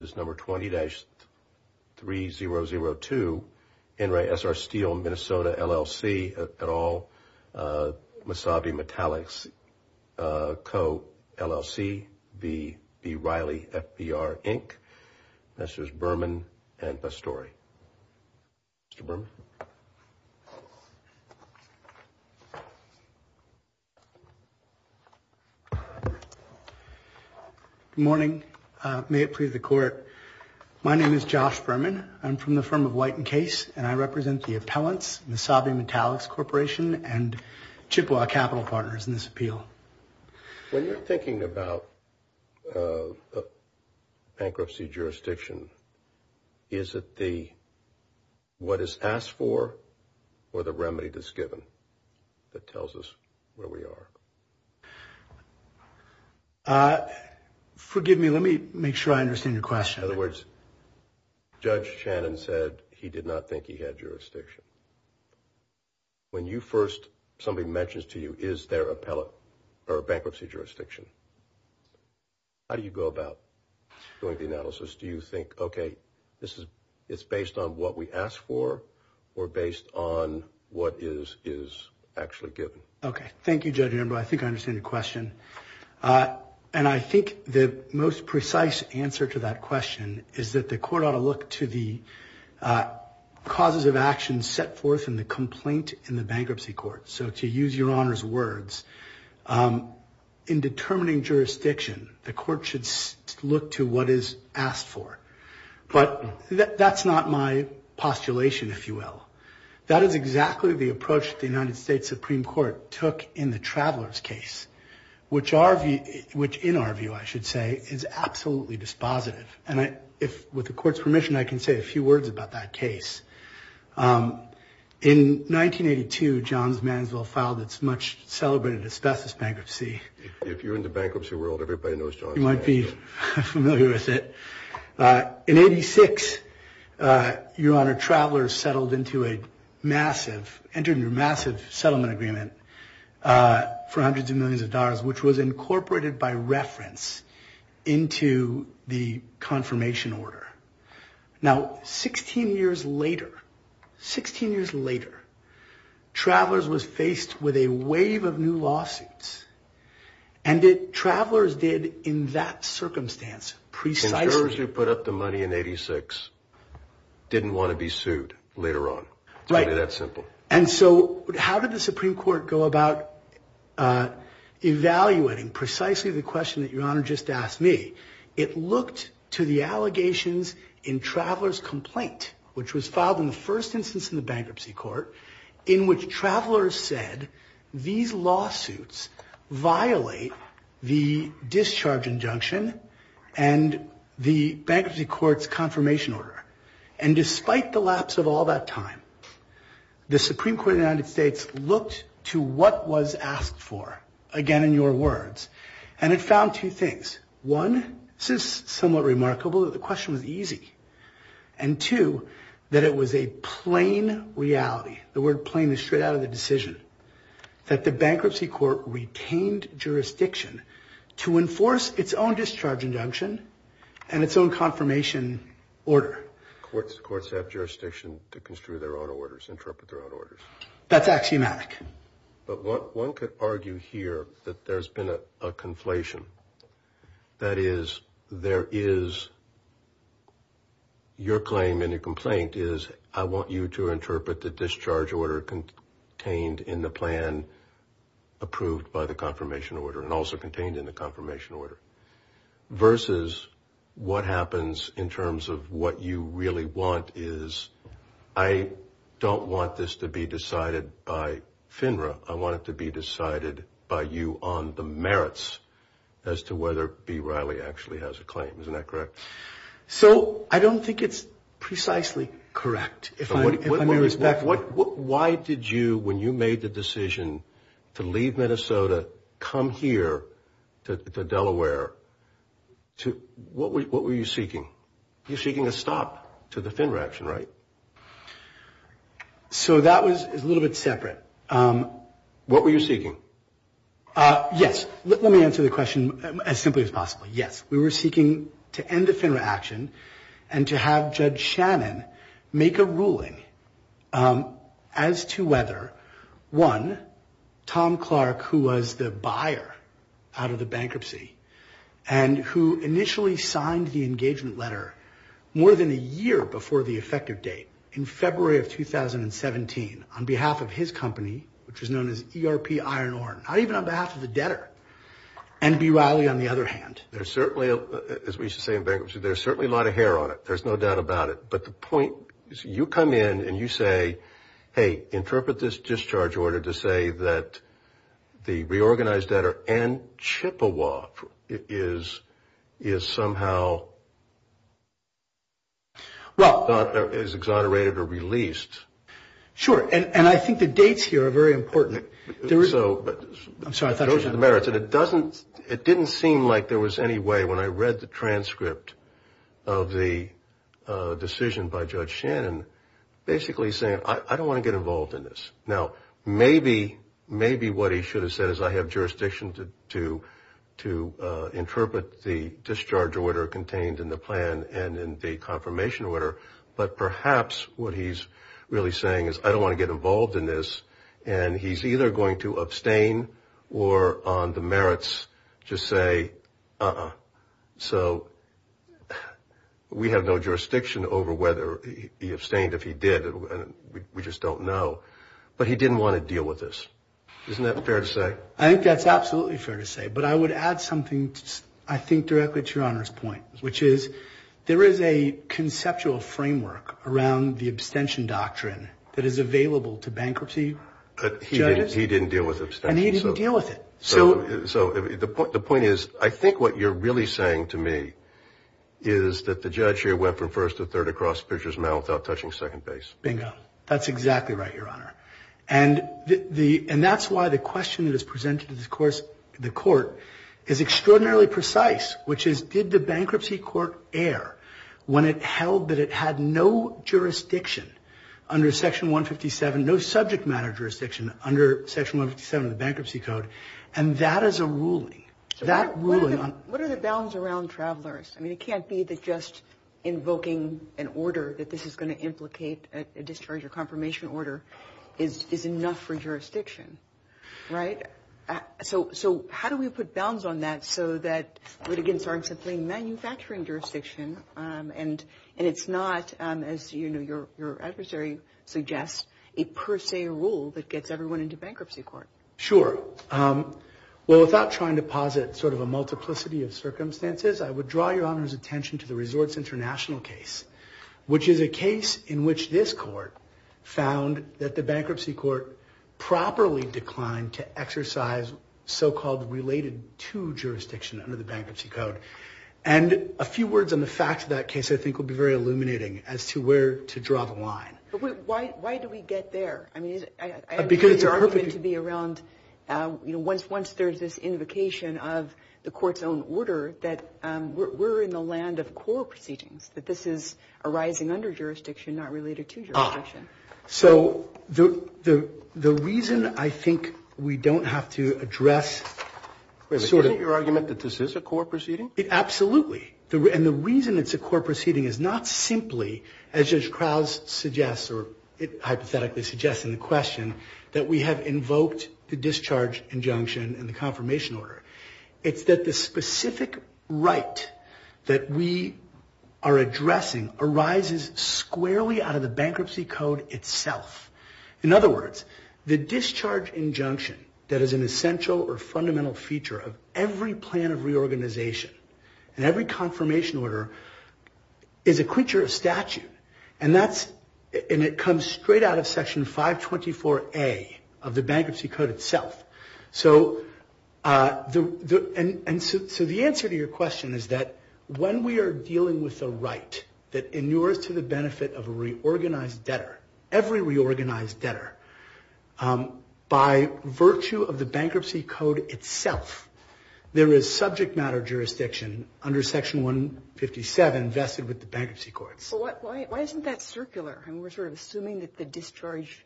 This number 20-3002. In Re Essar Steel Minnesota LLC et al. Masabi Metallics Co LLC v B Riley FBR Inc. This is Berman and Pastore. Mr. Berman. Good morning. May it please the court. My name is Josh Berman. I'm from the firm of White & Case, and I represent the appellants, Masabi Metallics Corporation, and Chippewa Capital Partners in this appeal. When you're thinking about bankruptcy jurisdiction, is it the what is asked for or the remedy that's given that tells us where we are? Forgive me. Let me make sure I understand your question. In other words, Judge Shannon said he did not think he had jurisdiction. When you first, somebody mentions to you, is there a bankruptcy jurisdiction, how do you go about doing the analysis? Do you think, okay, it's based on what we ask for or based on what is actually given? Okay. Thank you, Judge Amber. I think I understand your question. And I think the most precise answer to that question is that the court ought to look to the causes of action set forth in the complaint in the bankruptcy court. So to use your honor's words, in determining jurisdiction, the court should look to what is asked for. But that's not my postulation, if you will. That is exactly the approach the United States Supreme Court took in the Travelers case, which in our view, I should say, is absolutely dispositive. And with the court's permission, I can say a few words about that case. In 1982, Johns Mansville filed its much-celebrated asbestos bankruptcy. If you're in the bankruptcy world, everybody knows Johns Mansville. You might be familiar with it. In 86, your honor, Travelers settled into a massive, entered into a massive settlement agreement for hundreds of millions of dollars, which was incorporated by reference into the confirmation order. Now, 16 years later, 16 years later, Travelers was faced with a wave of new lawsuits. And Travelers did, in that circumstance, precisely- Conservatives who put up the money in 86 didn't want to be sued later on. It's really that simple. And so how did the Supreme Court go about evaluating precisely the question that your honor just asked me? It looked to the allegations in Travelers' complaint, which was filed in the first instance in the bankruptcy court, in which Travelers said these lawsuits violate the discharge injunction and the bankruptcy court's confirmation order. And despite the lapse of all that time, the Supreme Court of the United States looked to what was asked for. Again, in your words. And it found two things. One, this is somewhat remarkable that the question was easy. And two, that it was a plain reality. The word plain is straight out of the decision. That the bankruptcy court retained jurisdiction to enforce its own discharge injunction and its own confirmation order. Courts have jurisdiction to construe their own orders, interpret their own orders. That's axiomatic. But one could argue here that there's been a conflation. That is, there is your claim in the complaint is I want you to interpret the discharge order contained in the plan approved by the confirmation order. And also contained in the confirmation order. Versus what happens in terms of what you really want is I don't want this to be decided by FINRA. I want it to be decided by you on the merits as to whether B. Riley actually has a claim. Isn't that correct? So I don't think it's precisely correct. Why did you, when you made the decision to leave Minnesota, come here to Delaware, what were you seeking? You're seeking a stop to the FINRA action, right? So that was a little bit separate. What were you seeking? Yes. Let me answer the question as simply as possible. Yes. We were seeking to end the FINRA action and to have Judge Shannon make a ruling as to whether, one, Tom Clark, who was the buyer out of the bankruptcy. And who initially signed the engagement letter more than a year before the effective date in February of 2017 on behalf of his company, which was known as ERP Iron Ore. Not even on behalf of the debtor. And B. Riley, on the other hand. There's certainly, as we used to say in bankruptcy, there's certainly a lot of hair on it. There's no doubt about it. But the point is you come in and you say, hey, interpret this discharge order to say that the reorganized debtor, Ann Chippewa, is somehow not as exonerated or released. Sure. And I think the dates here are very important. I'm sorry. Those are the merits. And it didn't seem like there was any way, when I read the transcript of the decision by Judge Shannon, basically saying I don't want to get involved in this. Now, maybe what he should have said is I have jurisdiction to interpret the discharge order contained in the plan and in the confirmation order. But perhaps what he's really saying is I don't want to get involved in this. And he's either going to abstain or on the merits just say, uh-uh. So we have no jurisdiction over whether he abstained. If he did, we just don't know. But he didn't want to deal with this. Isn't that fair to say? I think that's absolutely fair to say. But I would add something, I think, directly to Your Honor's point, which is there is a conceptual framework around the abstention doctrine that is available to bankruptcy judges. He didn't deal with abstention. And he didn't deal with it. So the point is I think what you're really saying to me is that the judge here went from first to third across Fisher's Mound without touching second base. Bingo. That's exactly right, Your Honor. And that's why the question that is presented to the court is extraordinarily precise, which is did the bankruptcy court err when it held that it had no jurisdiction under Section 157, no subject matter jurisdiction under Section 157 of the Bankruptcy Code. And that is a ruling. That ruling on the ---- What are the bounds around travelers? I mean, it can't be that just invoking an order that this is going to implicate a discharge or confirmation order is enough for jurisdiction. Right? So how do we put bounds on that so that it would, again, start something manufacturing jurisdiction and it's not, as your adversary suggests, a per se rule that gets everyone into bankruptcy court? Sure. Well, without trying to posit sort of a multiplicity of circumstances, I would draw Your Honor's attention to the Resorts International case, which is a case in which this court found that the bankruptcy court properly declined to exercise so-called related to jurisdiction under the Bankruptcy Code. And a few words on the facts of that case I think will be very illuminating as to where to draw the line. Why do we get there? I mean, I agree with your argument to be around, you know, once there's this invocation of the court's own order, that we're in the land of core proceedings, that this is arising under jurisdiction, not related to jurisdiction. So the reason I think we don't have to address sort of ---- Wait a minute. Isn't your argument that this is a core proceeding? Absolutely. And the reason it's a core proceeding is not simply, as Judge Krause suggests or hypothetically suggests in the question, that we have invoked the discharge injunction and the confirmation order. It's that the specific right that we are addressing arises squarely out of the Bankruptcy Code itself. In other words, the discharge injunction that is an essential or fundamental feature of every plan of reorganization and every confirmation order is a creature of statute. And that's ---- and it comes straight out of Section 524A of the Bankruptcy Code itself. So the answer to your question is that when we are dealing with a right that inures to the benefit of a reorganized debtor, every reorganized debtor, by virtue of the Bankruptcy Code itself, there is subject matter jurisdiction under Section 157 vested with the Bankruptcy Courts. Well, why isn't that circular? I mean, we're sort of assuming that the discharge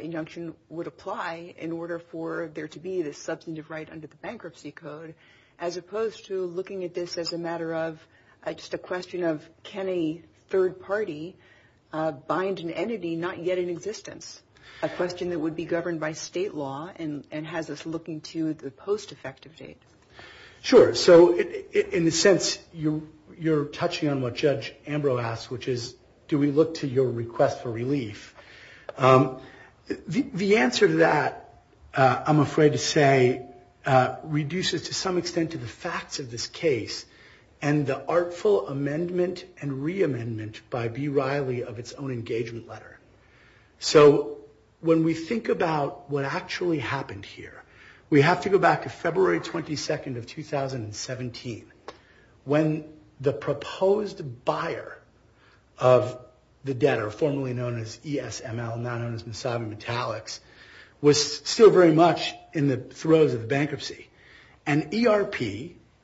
injunction would apply in order for there to be this substantive right under the Bankruptcy Code, as opposed to looking at this as a matter of just a question of can a third party bind an entity not yet in existence, a question that would be governed by state law and has us looking to the post-effective date. Sure. So in a sense, you're touching on what Judge Ambrose asked, which is do we look to your request for relief? The answer to that, I'm afraid to say, reduces to some extent to the facts of this case and the artful amendment and re-amendment by B. Riley of its own engagement letter. So when we think about what actually happened here, we have to go back to February 22nd of 2017, when the proposed buyer of the debtor, formerly known as ESML, now known as Misabi Metallics, was still very much in the throes of bankruptcy. And ERP,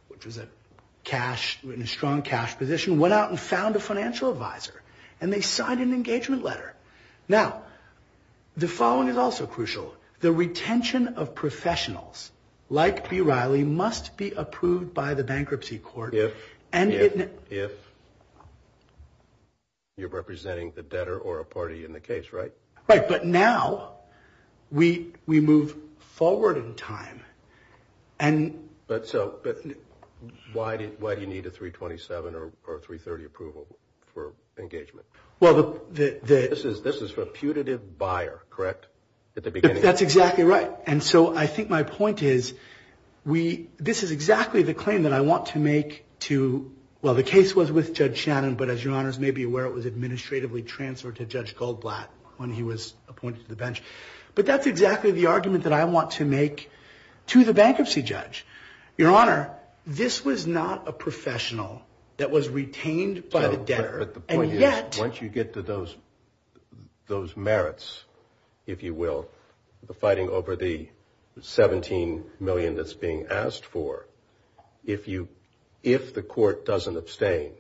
which was in a strong cash position, went out and found a financial advisor, and they signed an engagement letter. Now, the following is also crucial. The retention of professionals like B. Riley must be approved by the bankruptcy court. If you're representing the debtor or a party in the case, right? Right. But now we move forward in time. But why do you need a 327 or a 330 approval for engagement? This is for a putative buyer, correct, at the beginning? That's exactly right. And so I think my point is this is exactly the claim that I want to make to, well, the case was with Judge Shannon, but as your honors may be aware, it was administratively transferred to Judge Goldblatt when he was appointed to the bench. But that's exactly the argument that I want to make to the bankruptcy judge. Your honor, this was not a professional that was retained by the debtor. But the point is, once you get to those merits, if you will, the fighting over the $17 million that's being asked for, if the court doesn't abstain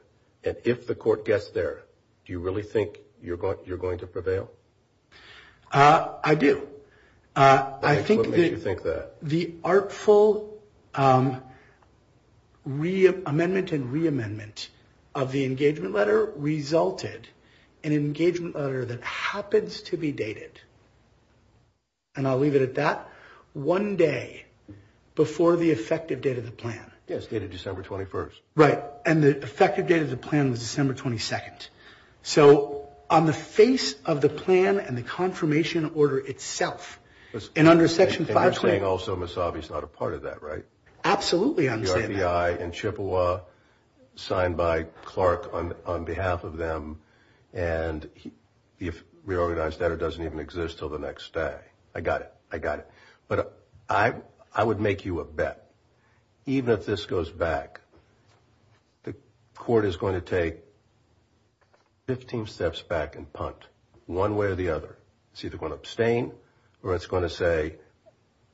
and if the court gets there, do you really think you're going to prevail? I do. What makes you think that? I think the artful amendment and re-amendment of the engagement letter resulted in an engagement letter that happens to be dated, and I'll leave it at that, one day before the effective date of the plan. Yes, dated December 21st. Right. And the effective date of the plan was December 22nd. So on the face of the plan and the confirmation order itself, and under Section 520. And you're saying also Misabi's not a part of that, right? Absolutely I'm saying that. The RBI and Chippewa, signed by Clark on behalf of them, and the reorganized debtor doesn't even exist until the next day. I got it. I got it. But I would make you a bet, even if this goes back, the court is going to take 15 steps back and punt one way or the other. It's either going to abstain or it's going to say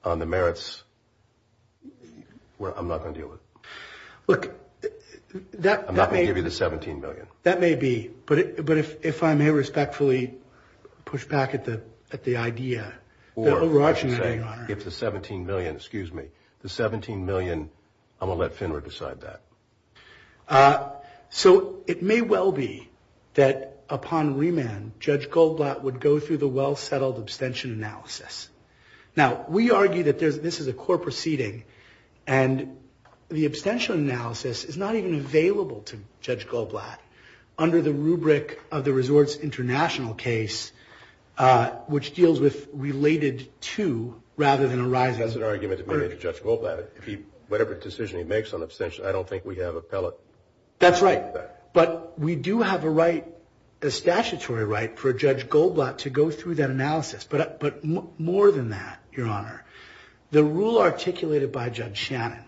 on the merits, I'm not going to deal with it. Look, that may be. I'm not going to give you the $17 million. That may be. But if I may respectfully push back at the idea. Or, I should say, if the $17 million, excuse me, the $17 million, I'm going to let FINRA decide that. So it may well be that upon remand, Judge Goldblatt would go through the well-settled abstention analysis. Now, we argue that this is a court proceeding, and the abstention analysis is not even available to Judge Goldblatt. Under the rubric of the Resorts International case, which deals with related to rather than arising. That's an argument made to Judge Goldblatt. Whatever decision he makes on abstention, I don't think we have a pellet. That's right. But we do have a statutory right for Judge Goldblatt to go through that analysis. But more than that, Your Honor, the rule articulated by Judge Shannon,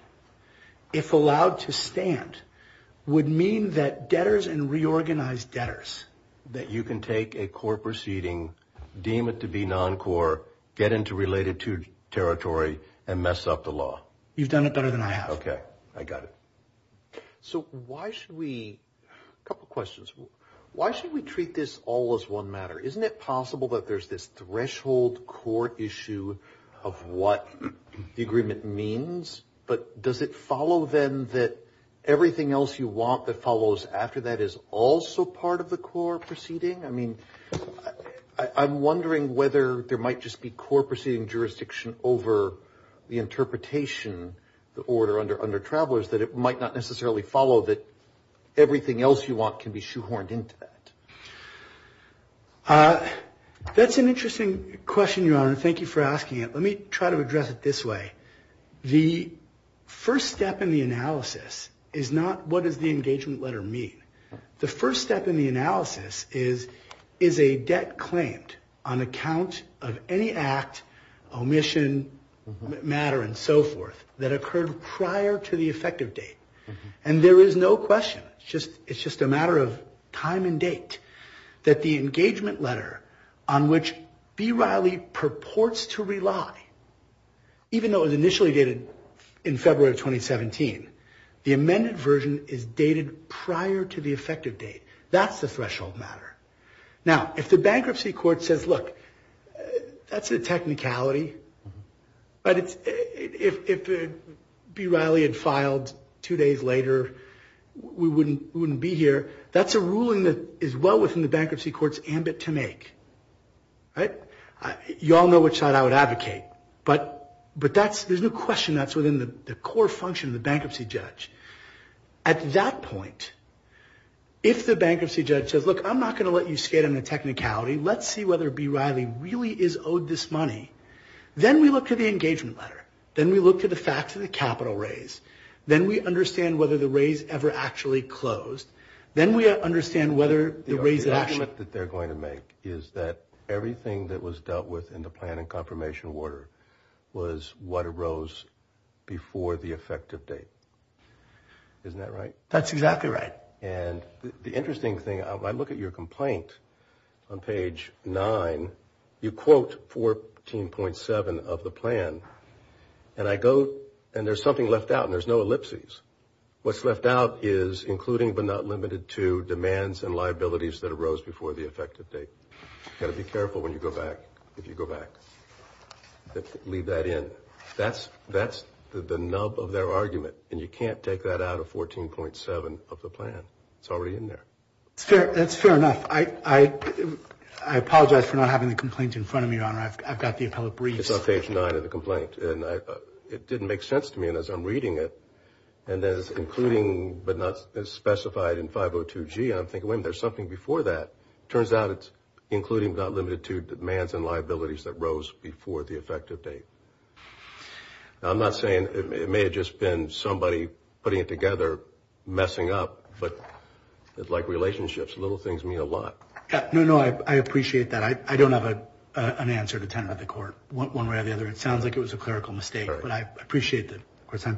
if allowed to stand, would mean that debtors and reorganized debtors. That you can take a court proceeding, deem it to be non-core, get into related to territory, and mess up the law. You've done it better than I have. Okay. I got it. So why should we, a couple questions. Why should we treat this all as one matter? Isn't it possible that there's this threshold court issue of what the agreement means? But does it follow, then, that everything else you want that follows after that is also part of the core proceeding? I mean, I'm wondering whether there might just be core proceeding jurisdiction over the interpretation, the order under Travelers, that it might not necessarily follow that everything else you want can be shoehorned into that. That's an interesting question, Your Honor. Thank you for asking it. Let me try to address it this way. The first step in the analysis is not what does the engagement letter mean. The first step in the analysis is, is a debt claimed on account of any act, omission, matter, and so forth, that occurred prior to the effective date. And there is no question, it's just a matter of time and date, that the engagement letter on which B. Riley purports to rely, even though it was initially dated in February of 2017, the amended version is dated prior to the effective date. That's the threshold matter. Now, if the bankruptcy court says, look, that's a technicality, but if B. Riley had filed two days later, we wouldn't be here, that's a ruling that is well within the bankruptcy court's ambit to make. Right? You all know which side I would advocate, but there's no question that's within the core function of the bankruptcy judge. At that point, if the bankruptcy judge says, look, I'm not going to let you skate on the technicality. Let's see whether B. Riley really is owed this money. Then we look to the engagement letter. Then we look to the facts of the capital raise. Then we understand whether the raise ever actually closed. Then we understand whether the raise that actually- The point is that everything that was dealt with in the plan and confirmation order was what arose before the effective date. Isn't that right? That's exactly right. And the interesting thing, I look at your complaint on page 9. You quote 14.7 of the plan. And I go, and there's something left out, and there's no ellipses. What's left out is, including but not limited to, the demands and liabilities that arose before the effective date. Got to be careful when you go back, if you go back. Leave that in. That's the nub of their argument, and you can't take that out of 14.7 of the plan. It's already in there. That's fair enough. I apologize for not having the complaint in front of me, Your Honor. I've got the appellate briefs. It's on page 9 of the complaint. It didn't make sense to me, and as I'm reading it, and there's including but not specified in 502G, and I'm thinking, wait a minute, there's something before that. It turns out it's including but not limited to demands and liabilities that rose before the effective date. Now, I'm not saying it may have just been somebody putting it together, messing up, but like relationships, little things mean a lot. No, no, I appreciate that. I don't have an answer to tend to the court one way or the other. It sounds like it was a clerical mistake, but I appreciate it.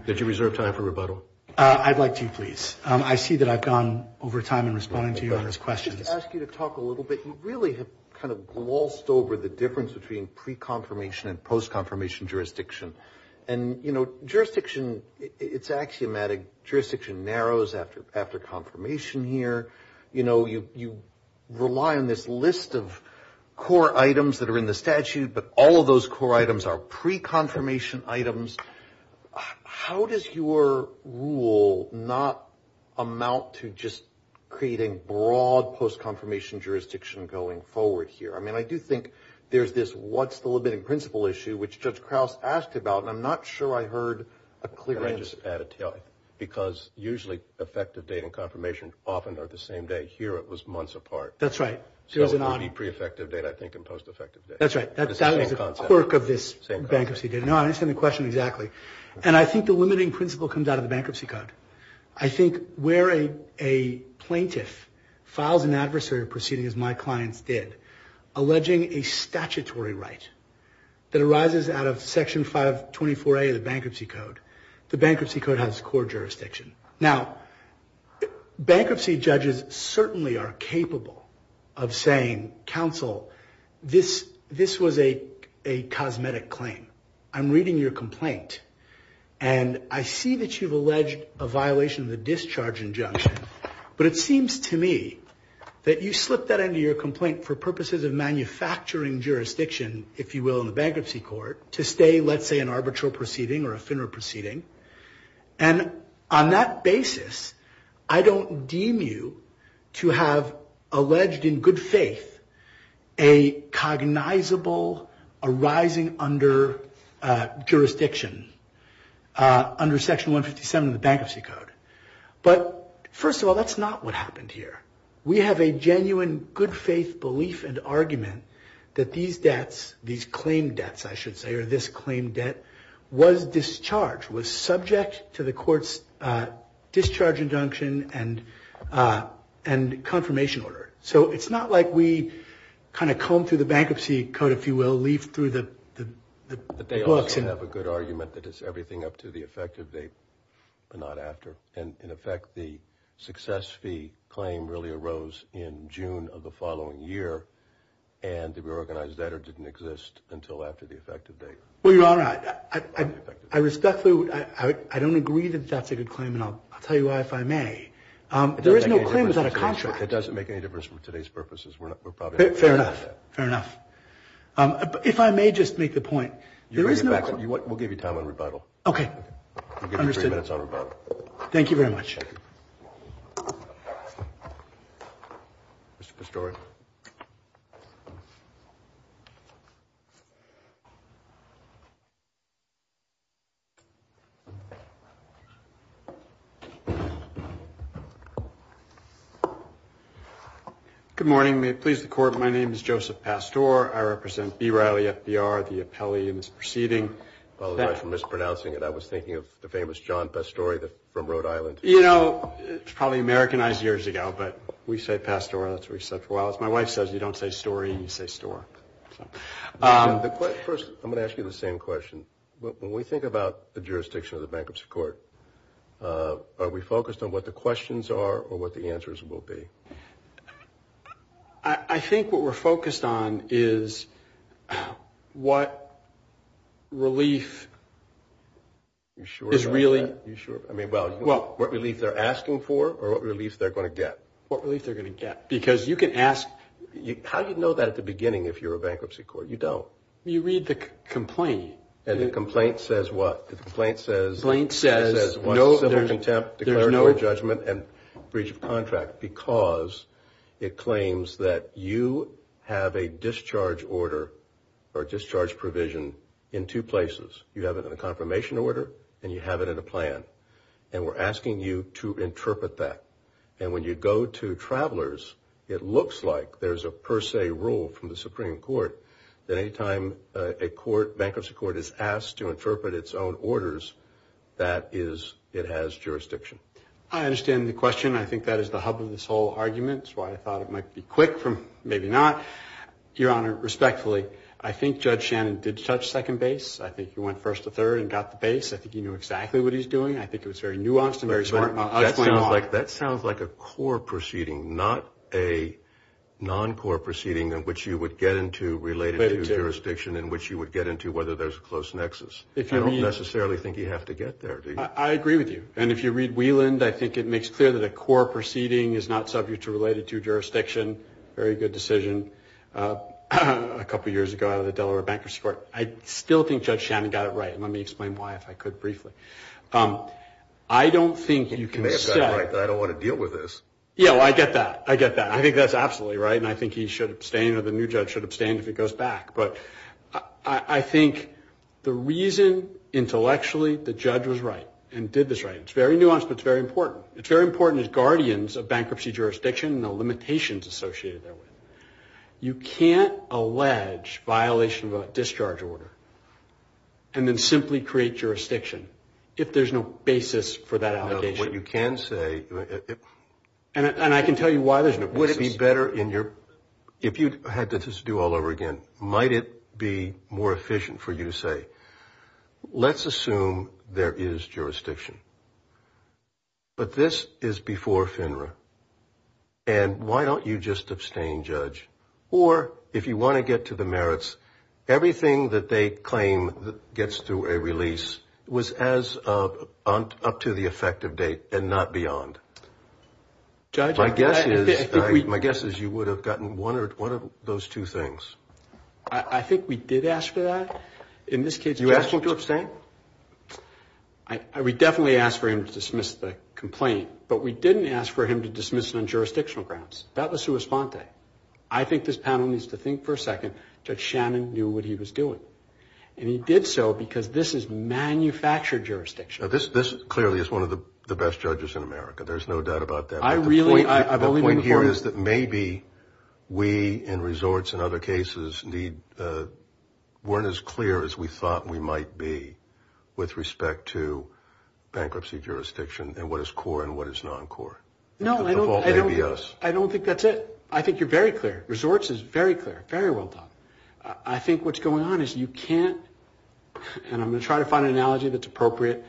Did you reserve time for rebuttal? I'd like to, please. I see that I've gone over time in responding to Your Honor's questions. I'd just ask you to talk a little bit. You really have kind of glossed over the difference between pre-confirmation and post-confirmation jurisdiction. And, you know, jurisdiction, it's axiomatic. Jurisdiction narrows after confirmation here. You know, you rely on this list of core items that are in the statute, but all of those core items are pre-confirmation items. How does your rule not amount to just creating broad post-confirmation jurisdiction going forward here? I mean, I do think there's this what's the limiting principle issue, which Judge Krause asked about, and I'm not sure I heard a clear answer. Can I just add it to you? Because usually effective date and confirmation often are the same day. Here it was months apart. That's right. So it would be pre-effective date, I think, and post-effective date. That's right. That was the quirk of this bankruptcy. No, I understand the question exactly. And I think the limiting principle comes out of the Bankruptcy Code. I think where a plaintiff files an adversary proceeding, as my clients did, alleging a statutory right that arises out of Section 524A of the Bankruptcy Code, the Bankruptcy Code has core jurisdiction. Now, bankruptcy judges certainly are capable of saying, counsel, this was a cosmetic claim. I'm reading your complaint, and I see that you've alleged a violation of the discharge injunction, but it seems to me that you slipped that into your complaint for purposes of manufacturing jurisdiction, if you will, in the Bankruptcy Court to stay, let's say, an arbitral proceeding or a FINRA proceeding. And on that basis, I don't deem you to have alleged in good faith a cognizable arising under jurisdiction under Section 157 of the Bankruptcy Code. But first of all, that's not what happened here. We have a genuine good faith belief and argument that these debts, these claim debts, I should say, or this claim debt was discharged, was subject to the court's discharge injunction and confirmation order. So it's not like we kind of combed through the Bankruptcy Code, if you will, leafed through the books. But they also have a good argument that it's everything up to the effect of they are not after. And, in effect, the success fee claim really arose in June of the following year, and the reorganized debtor didn't exist until after the effective date. Well, Your Honor, I respectfully – I don't agree that that's a good claim, and I'll tell you why, if I may. There is no claim without a contract. It doesn't make any difference for today's purposes. We're probably not going to do that. Fair enough. Fair enough. If I may just make the point, there is no – We'll give you time on rebuttal. Okay. We'll give you three minutes on rebuttal. Thank you very much. Thank you. Mr. Pastore. Good morning. May it please the Court, my name is Joseph Pastore. I represent B Riley FDR, the appellee in this proceeding. I apologize for mispronouncing it. I was thinking of the famous John Pastore from Rhode Island. You know, it's probably Americanized years ago, but we say Pastore, and that's what we've said for a while. As my wife says, you don't say story, you say store. First, I'm going to ask you the same question. When we think about the jurisdiction of the Bankruptcy Court, are we focused on what the questions are or what the answers will be? I think what we're focused on is what relief is really – What relief they're asking for or what relief they're going to get. What relief they're going to get. Because you can ask – How do you know that at the beginning if you're a Bankruptcy Court? You don't. You read the complaint. And the complaint says what? The complaint says – The complaint says – It says civil contempt, declaratory judgment, and breach of contract, because it claims that you have a discharge order or a discharge provision in two places. You have it in a confirmation order and you have it in a plan. And we're asking you to interpret that. And when you go to travelers, it looks like there's a per se rule from the Supreme Court that any time a Bankruptcy Court is asked to interpret its own orders, that is – it has jurisdiction. I understand the question. I think that is the hub of this whole argument. It's why I thought it might be quick from maybe not. Your Honor, respectfully, I think Judge Shannon did touch second base. I think he went first to third and got the base. I think he knew exactly what he was doing. I think it was very nuanced and very smart. I'll explain why. That sounds like a core proceeding, not a non-core proceeding in which you would get into related jurisdiction in which you would get into whether there's a close nexus. I don't necessarily think you have to get there, do you? I agree with you. And if you read Wieland, I think it makes clear that a core proceeding is not subject to related jurisdiction. Very good decision. A couple years ago, out of the Delaware Bankruptcy Court, I still think Judge Shannon got it right. Let me explain why, if I could, briefly. I don't think you can say. You may have got it right, but I don't want to deal with this. Yeah, well, I get that. I get that. I think that's absolutely right, and I think he should abstain or the new judge should abstain if it goes back. But I think the reason intellectually the judge was right and did this right, it's very nuanced, but it's very important. It's very important as guardians of bankruptcy jurisdiction and the limitations associated there with it. You can't allege violation of a discharge order and then simply create jurisdiction if there's no basis for that allegation. What you can say. And I can tell you why there's no basis. Would it be better if you had to just do all over again? Might it be more efficient for you to say, let's assume there is jurisdiction, but this is before FINRA, and why don't you just abstain, Judge? Or if you want to get to the merits, everything that they claim gets through a release was up to the effective date and not beyond. My guess is you would have gotten one of those two things. I think we did ask for that. You asked him to abstain? We definitely asked for him to dismiss the complaint, but we didn't ask for him to dismiss it on jurisdictional grounds. I think this panel needs to think for a second. Judge Shannon knew what he was doing, and he did so because this is manufactured jurisdiction. This clearly is one of the best judges in America. There's no doubt about that. The point here is that maybe we in resorts and other cases weren't as clear as we thought we might be with respect to bankruptcy jurisdiction and what is core and what is non-core. No, I don't think that's it. I think you're very clear. Resorts is very clear, very well done. I think what's going on is you can't, and I'm going to try to find an analogy that's appropriate,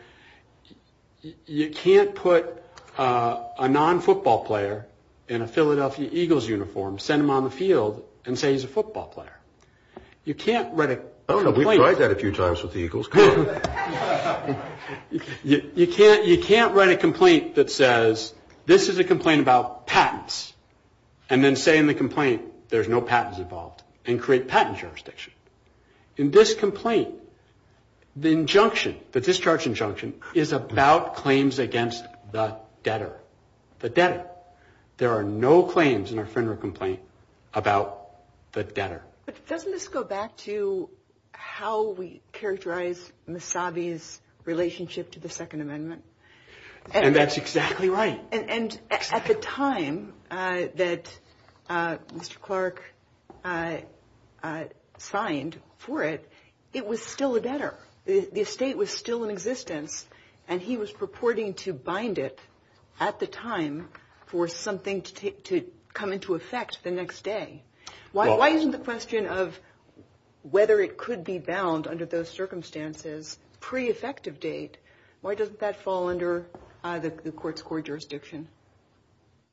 you can't put a non-football player in a Philadelphia Eagles uniform, send him on the field, and say he's a football player. You can't write a complaint. Come on. You can't write a complaint that says this is a complaint about patents and then say in the complaint there's no patents involved and create patent jurisdiction. In this complaint, the injunction, the discharge injunction, is about claims against the debtor, the debtor. There are no claims in a federal complaint about the debtor. But doesn't this go back to how we characterize Misabi's relationship to the Second Amendment? And that's exactly right. And at the time that Mr. Clark signed for it, it was still a debtor. The estate was still in existence, and he was purporting to bind it at the time for something to come into effect the next day. Why isn't the question of whether it could be bound under those circumstances pre-effective date, why doesn't that fall under the court's core jurisdiction?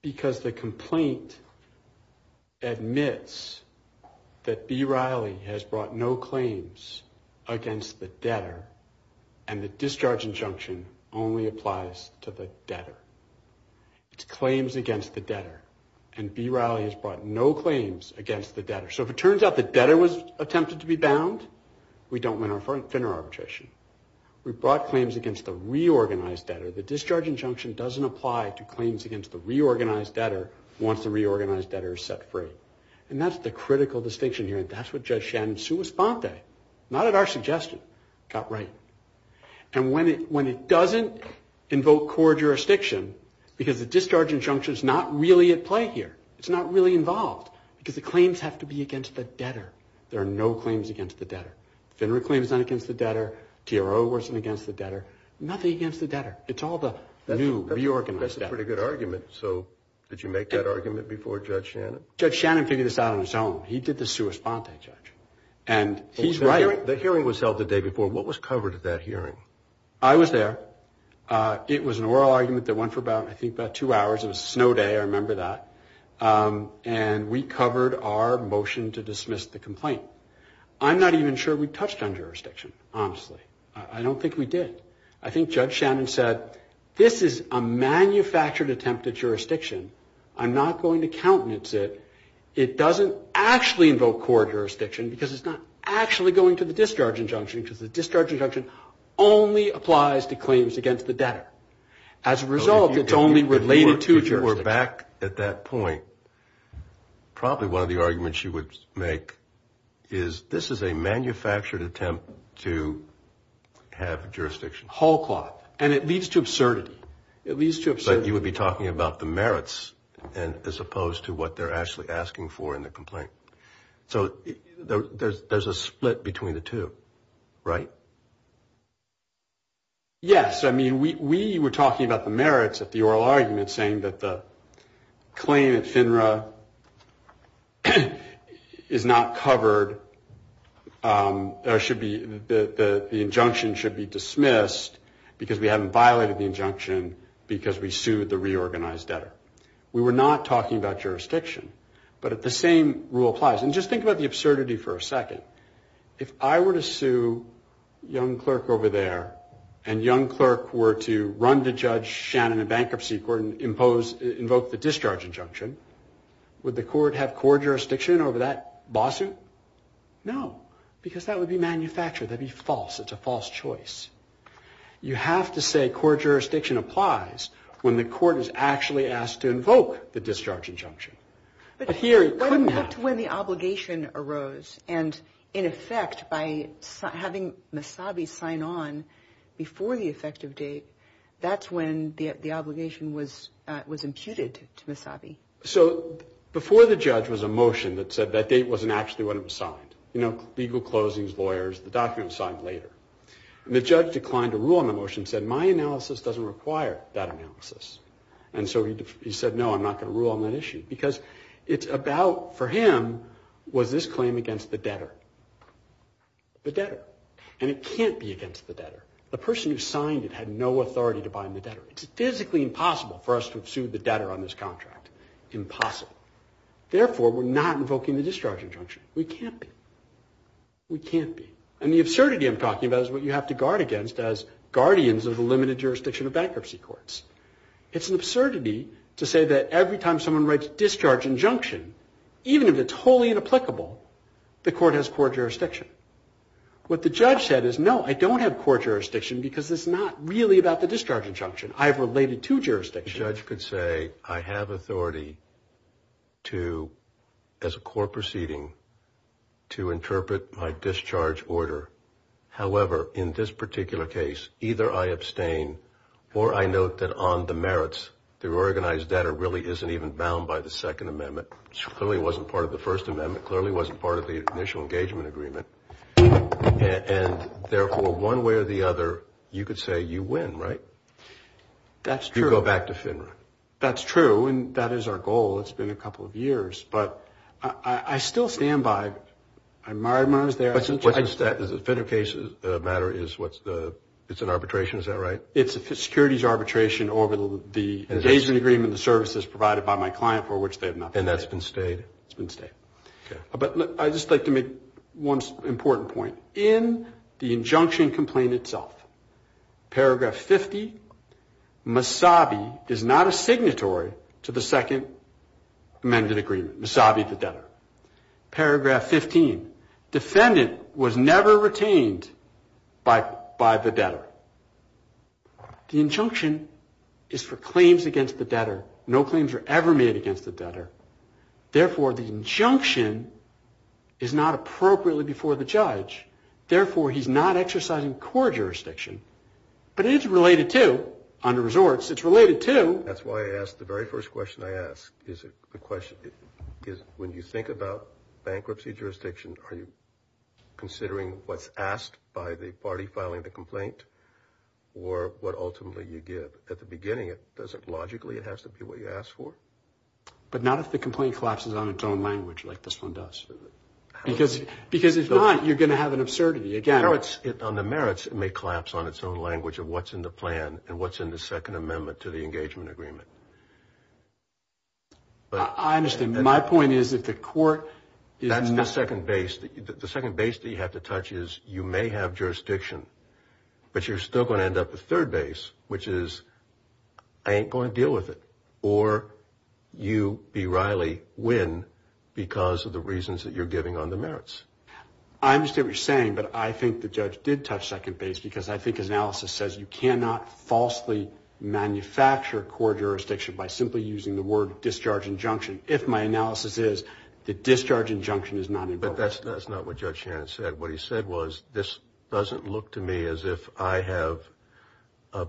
Because the complaint admits that B. Riley has brought no claims against the debtor, and the discharge injunction only applies to the debtor. It's claims against the debtor. And B. Riley has brought no claims against the debtor. So if it turns out the debtor was attempted to be bound, we don't win our Finner arbitration. We brought claims against the reorganized debtor. The discharge injunction doesn't apply to claims against the reorganized debtor once the reorganized debtor is set free. And that's the critical distinction here, and that's what Judge Shannon Suisponte, not at our suggestion, got right. And when it doesn't invoke core jurisdiction, because the discharge injunction is not really at play here, it's not really involved, because the claims have to be against the debtor. There are no claims against the debtor. Finner claims aren't against the debtor. TRO wasn't against the debtor. Nothing against the debtor. It's all the new reorganized debtor. That's a pretty good argument. So did you make that argument before Judge Shannon? Judge Shannon figured this out on his own. He did the Suisponte judge, and he's right. The hearing was held the day before. What was covered at that hearing? I was there. It was an oral argument that went for about, I think, about two hours. It was a snow day. I remember that. And we covered our motion to dismiss the complaint. I'm not even sure we touched on jurisdiction, honestly. I don't think we did. I think Judge Shannon said, this is a manufactured attempt at jurisdiction. I'm not going to countenance it. It doesn't actually invoke core jurisdiction, because it's not actually going to the discharge injunction, because the discharge injunction only applies to claims against the debtor. As a result, it's only related to jurisdiction. If you were back at that point, probably one of the arguments you would make is, this is a manufactured attempt to have jurisdiction. Hall cloth. And it leads to absurdity. It leads to absurdity. But you would be talking about the merits, as opposed to what they're actually asking for in the complaint. So there's a split between the two. Right. Yes. I mean, we were talking about the merits of the oral argument, saying that the claim at FINRA is not covered, or the injunction should be dismissed, because we haven't violated the injunction, because we sued the reorganized debtor. We were not talking about jurisdiction. But the same rule applies. And just think about the absurdity for a second. If I were to sue Young Clerk over there, and Young Clerk were to run to Judge Shannon in bankruptcy court and invoke the discharge injunction, would the court have court jurisdiction over that lawsuit? No. Because that would be manufactured. That would be false. It's a false choice. You have to say court jurisdiction applies when the court is actually asked to invoke the discharge injunction. But here you couldn't have. That's when the obligation arose. And in effect, by having Misabi sign on before the effective date, that's when the obligation was imputed to Misabi. So before the judge was a motion that said that date wasn't actually when it was signed. You know, legal closings, lawyers, the document was signed later. And the judge declined to rule on the motion and said, my analysis doesn't require that analysis. And so he said, no, I'm not going to rule on that issue. Because it's about, for him, was this claim against the debtor? The debtor. And it can't be against the debtor. The person who signed it had no authority to bind the debtor. It's physically impossible for us to have sued the debtor on this contract. Impossible. Therefore, we're not invoking the discharge injunction. We can't be. We can't be. And the absurdity I'm talking about is what you have to guard against as guardians of the limited jurisdiction of bankruptcy courts. It's an absurdity to say that every time someone writes discharge injunction, even if it's wholly inapplicable, the court has court jurisdiction. What the judge said is, no, I don't have court jurisdiction because it's not really about the discharge injunction. I have related to jurisdiction. The judge could say, I have authority to, as a court proceeding, to interpret my discharge order. However, in this particular case, either I abstain or I note that on the merits, the organized debtor really isn't even bound by the Second Amendment. Clearly it wasn't part of the First Amendment. Clearly it wasn't part of the initial engagement agreement. And, therefore, one way or the other, you could say you win, right? That's true. You go back to FINRA. That's true. And that is our goal. It's been a couple of years. But I still stand by. What's the FINRA case matter? It's an arbitration, is that right? It's a securities arbitration over the engagement agreement, the services provided by my client for which they have not paid. And that's been stayed? It's been stayed. But I'd just like to make one important point. In the injunction complaint itself, paragraph 50, Masabi is not a signatory to the Second Amendment agreement. Masabi, the debtor. Paragraph 15, defendant was never retained by the debtor. The injunction is for claims against the debtor. No claims were ever made against the debtor. Therefore, the injunction is not appropriately before the judge. Therefore, he's not exercising court jurisdiction. But it is related to, under resorts, it's related to. That's why I asked the very first question I asked. The question is, when you think about bankruptcy jurisdiction, are you considering what's asked by the party filing the complaint or what ultimately you give? At the beginning, doesn't it logically have to be what you ask for? But not if the complaint collapses on its own language like this one does. Because if not, you're going to have an absurdity. On the merits, it may collapse on its own language of what's in the plan and what's in the Second Amendment to the engagement agreement. I understand. My point is that the court is not. That's the second base. The second base that you have to touch is you may have jurisdiction, but you're still going to end up with third base, which is I ain't going to deal with it. Or you, B. Riley, win because of the reasons that you're giving on the merits. I understand what you're saying, but I think the judge did touch second base because I think his analysis says you cannot falsely manufacture court jurisdiction by simply using the word discharge injunction. If my analysis is the discharge injunction is not involved. But that's not what Judge Shannon said. What he said was this doesn't look to me as if I have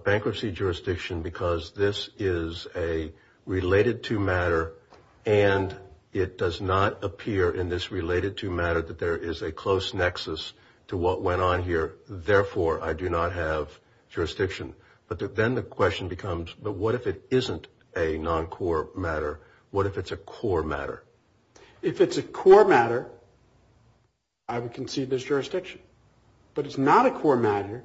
bankruptcy jurisdiction because this is a related to matter and it does not appear in this related to matter that there is a close nexus to what went on here. Therefore, I do not have jurisdiction. But then the question becomes, but what if it isn't a non-core matter? What if it's a core matter? If it's a core matter, I would concede there's jurisdiction. But it's not a core matter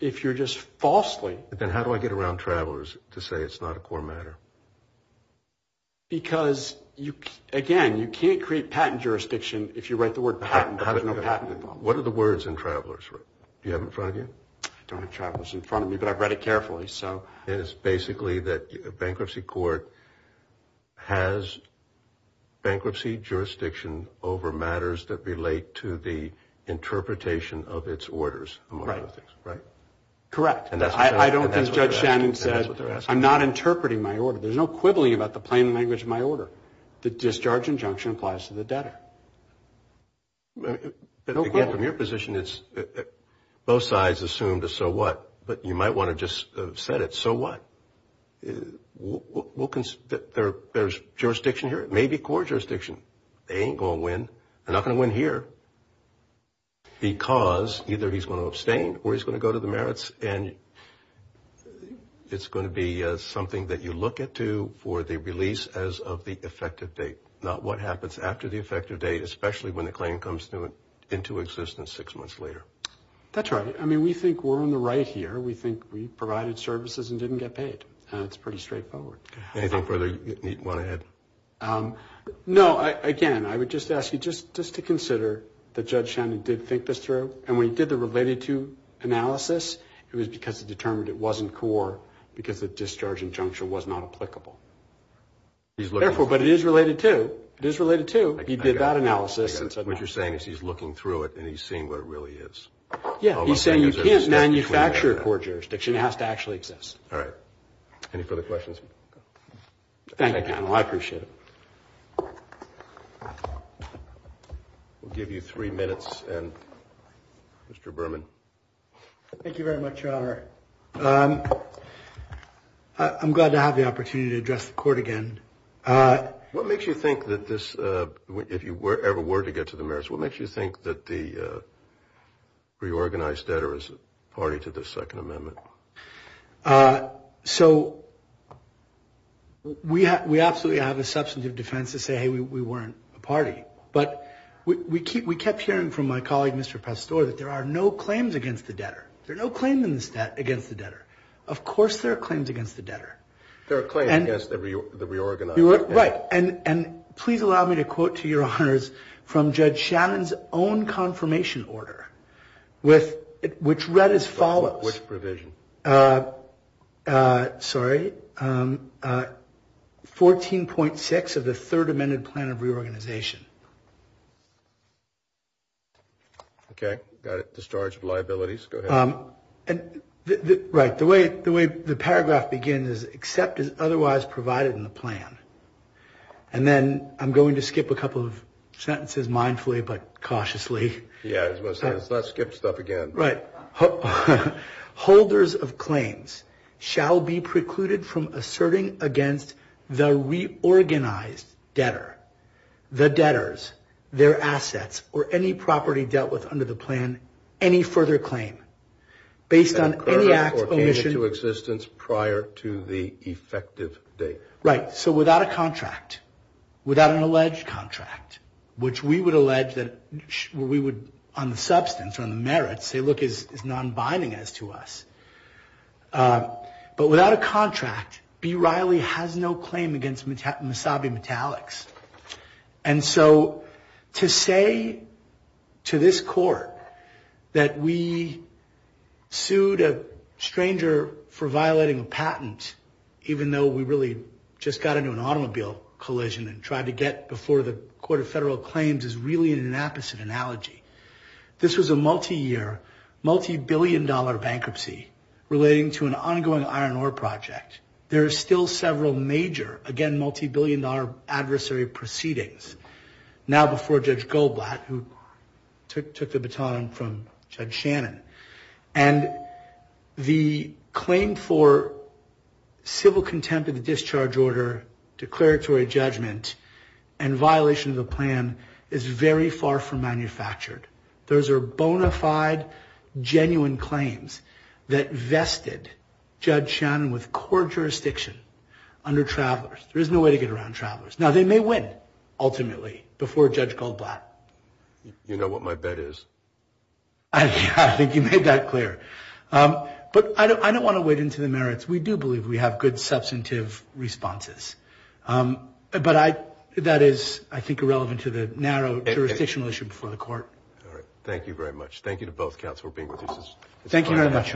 if you're just falsely. Then how do I get around travelers to say it's not a core matter? Because, again, you can't create patent jurisdiction if you write the word patent. There's no patent involved. What are the words in travelers? Do you have it in front of you? I don't have travelers in front of me, but I've read it carefully. And it's basically that bankruptcy court has bankruptcy jurisdiction over matters that relate to the interpretation of its orders among other things, right? Correct. And that's what they're asking. There's no quibbling about the plain language of my order. The discharge injunction applies to the debtor. Again, from your position, both sides assumed a so what. But you might want to just have said it, so what? There's jurisdiction here. It may be core jurisdiction. They ain't going to win. They're not going to win here because either he's going to abstain or he's going to go to the merits, and it's going to be something that you look at for the release as of the effective date, not what happens after the effective date, especially when the claim comes into existence six months later. That's right. I mean, we think we're on the right here. We think we provided services and didn't get paid, and it's pretty straightforward. Anything further you want to add? No. Again, I would just ask you just to consider that Judge Shannon did think this through, and when he did the related-to analysis, it was because he determined it wasn't core because the discharge injunction was not applicable. Therefore, but it is related-to. It is related-to. He did that analysis. What you're saying is he's looking through it, and he's seeing what it really is. Yeah. He's saying you can't manufacture core jurisdiction. It has to actually exist. All right. Any further questions? Thank you, panel. I appreciate it. We'll give you three minutes, and Mr. Berman. Thank you very much, Your Honor. I'm glad to have the opportunity to address the Court again. What makes you think that this, if you ever were to get to the merits, what makes you think that the reorganized debtor is party to the Second Amendment? So we absolutely have a substantive defense to say, hey, we weren't a party. But we kept hearing from my colleague, Mr. Pastore, that there are no claims against the debtor. There are no claims against the debtor. Of course there are claims against the debtor. There are claims against the reorganized debtor. Right. And please allow me to quote to Your Honors from Judge Shannon's own confirmation order, which read as follows. Which provision? Sorry. 14.6 of the Third Amendment Plan of Reorganization. Okay. Got it. The storage of liabilities. Go ahead. Right. The way the paragraph begins is, except as otherwise provided in the plan. And then I'm going to skip a couple of sentences, mindfully but cautiously. Yeah, I was going to say, let's not skip stuff again. Right. Holders of claims shall be precluded from asserting against the reorganized debtor, the debtors, their assets, or any property dealt with under the plan any further claim, based on any act or mission. Prior to the effective date. Right. So without a contract, without an alleged contract, which we would allege that we would, on the substance, on the merits, say, look, it's non-binding as to us. But without a contract, B. Riley has no claim against Masabi Metallics. And so to say to this court that we sued a stranger for violating a patent, even though we really just got into an automobile collision and tried to get before the Court of Federal Claims, is really an inapposite analogy. This was a multi-year, multi-billion dollar bankruptcy relating to an ongoing iron ore project. There are still several major, again, multi-billion dollar adversary proceedings now before Judge Goldblatt, who took the baton from Judge Shannon. And the claim for civil contempt of the discharge order, declaratory judgment, and violation of the plan is very far from manufactured. Those are bona fide, genuine claims that vested Judge Shannon with court jurisdiction under Travelers. There is no way to get around Travelers. Now, they may win, ultimately, before Judge Goldblatt. You know what my bet is. I think you made that clear. But I don't want to wade into the merits. We do believe we have good substantive responses. But that is, I think, irrelevant to the narrow jurisdictional issue before the court. All right. Thank you very much. Thank you to both counselors for being with us. Thank you very much.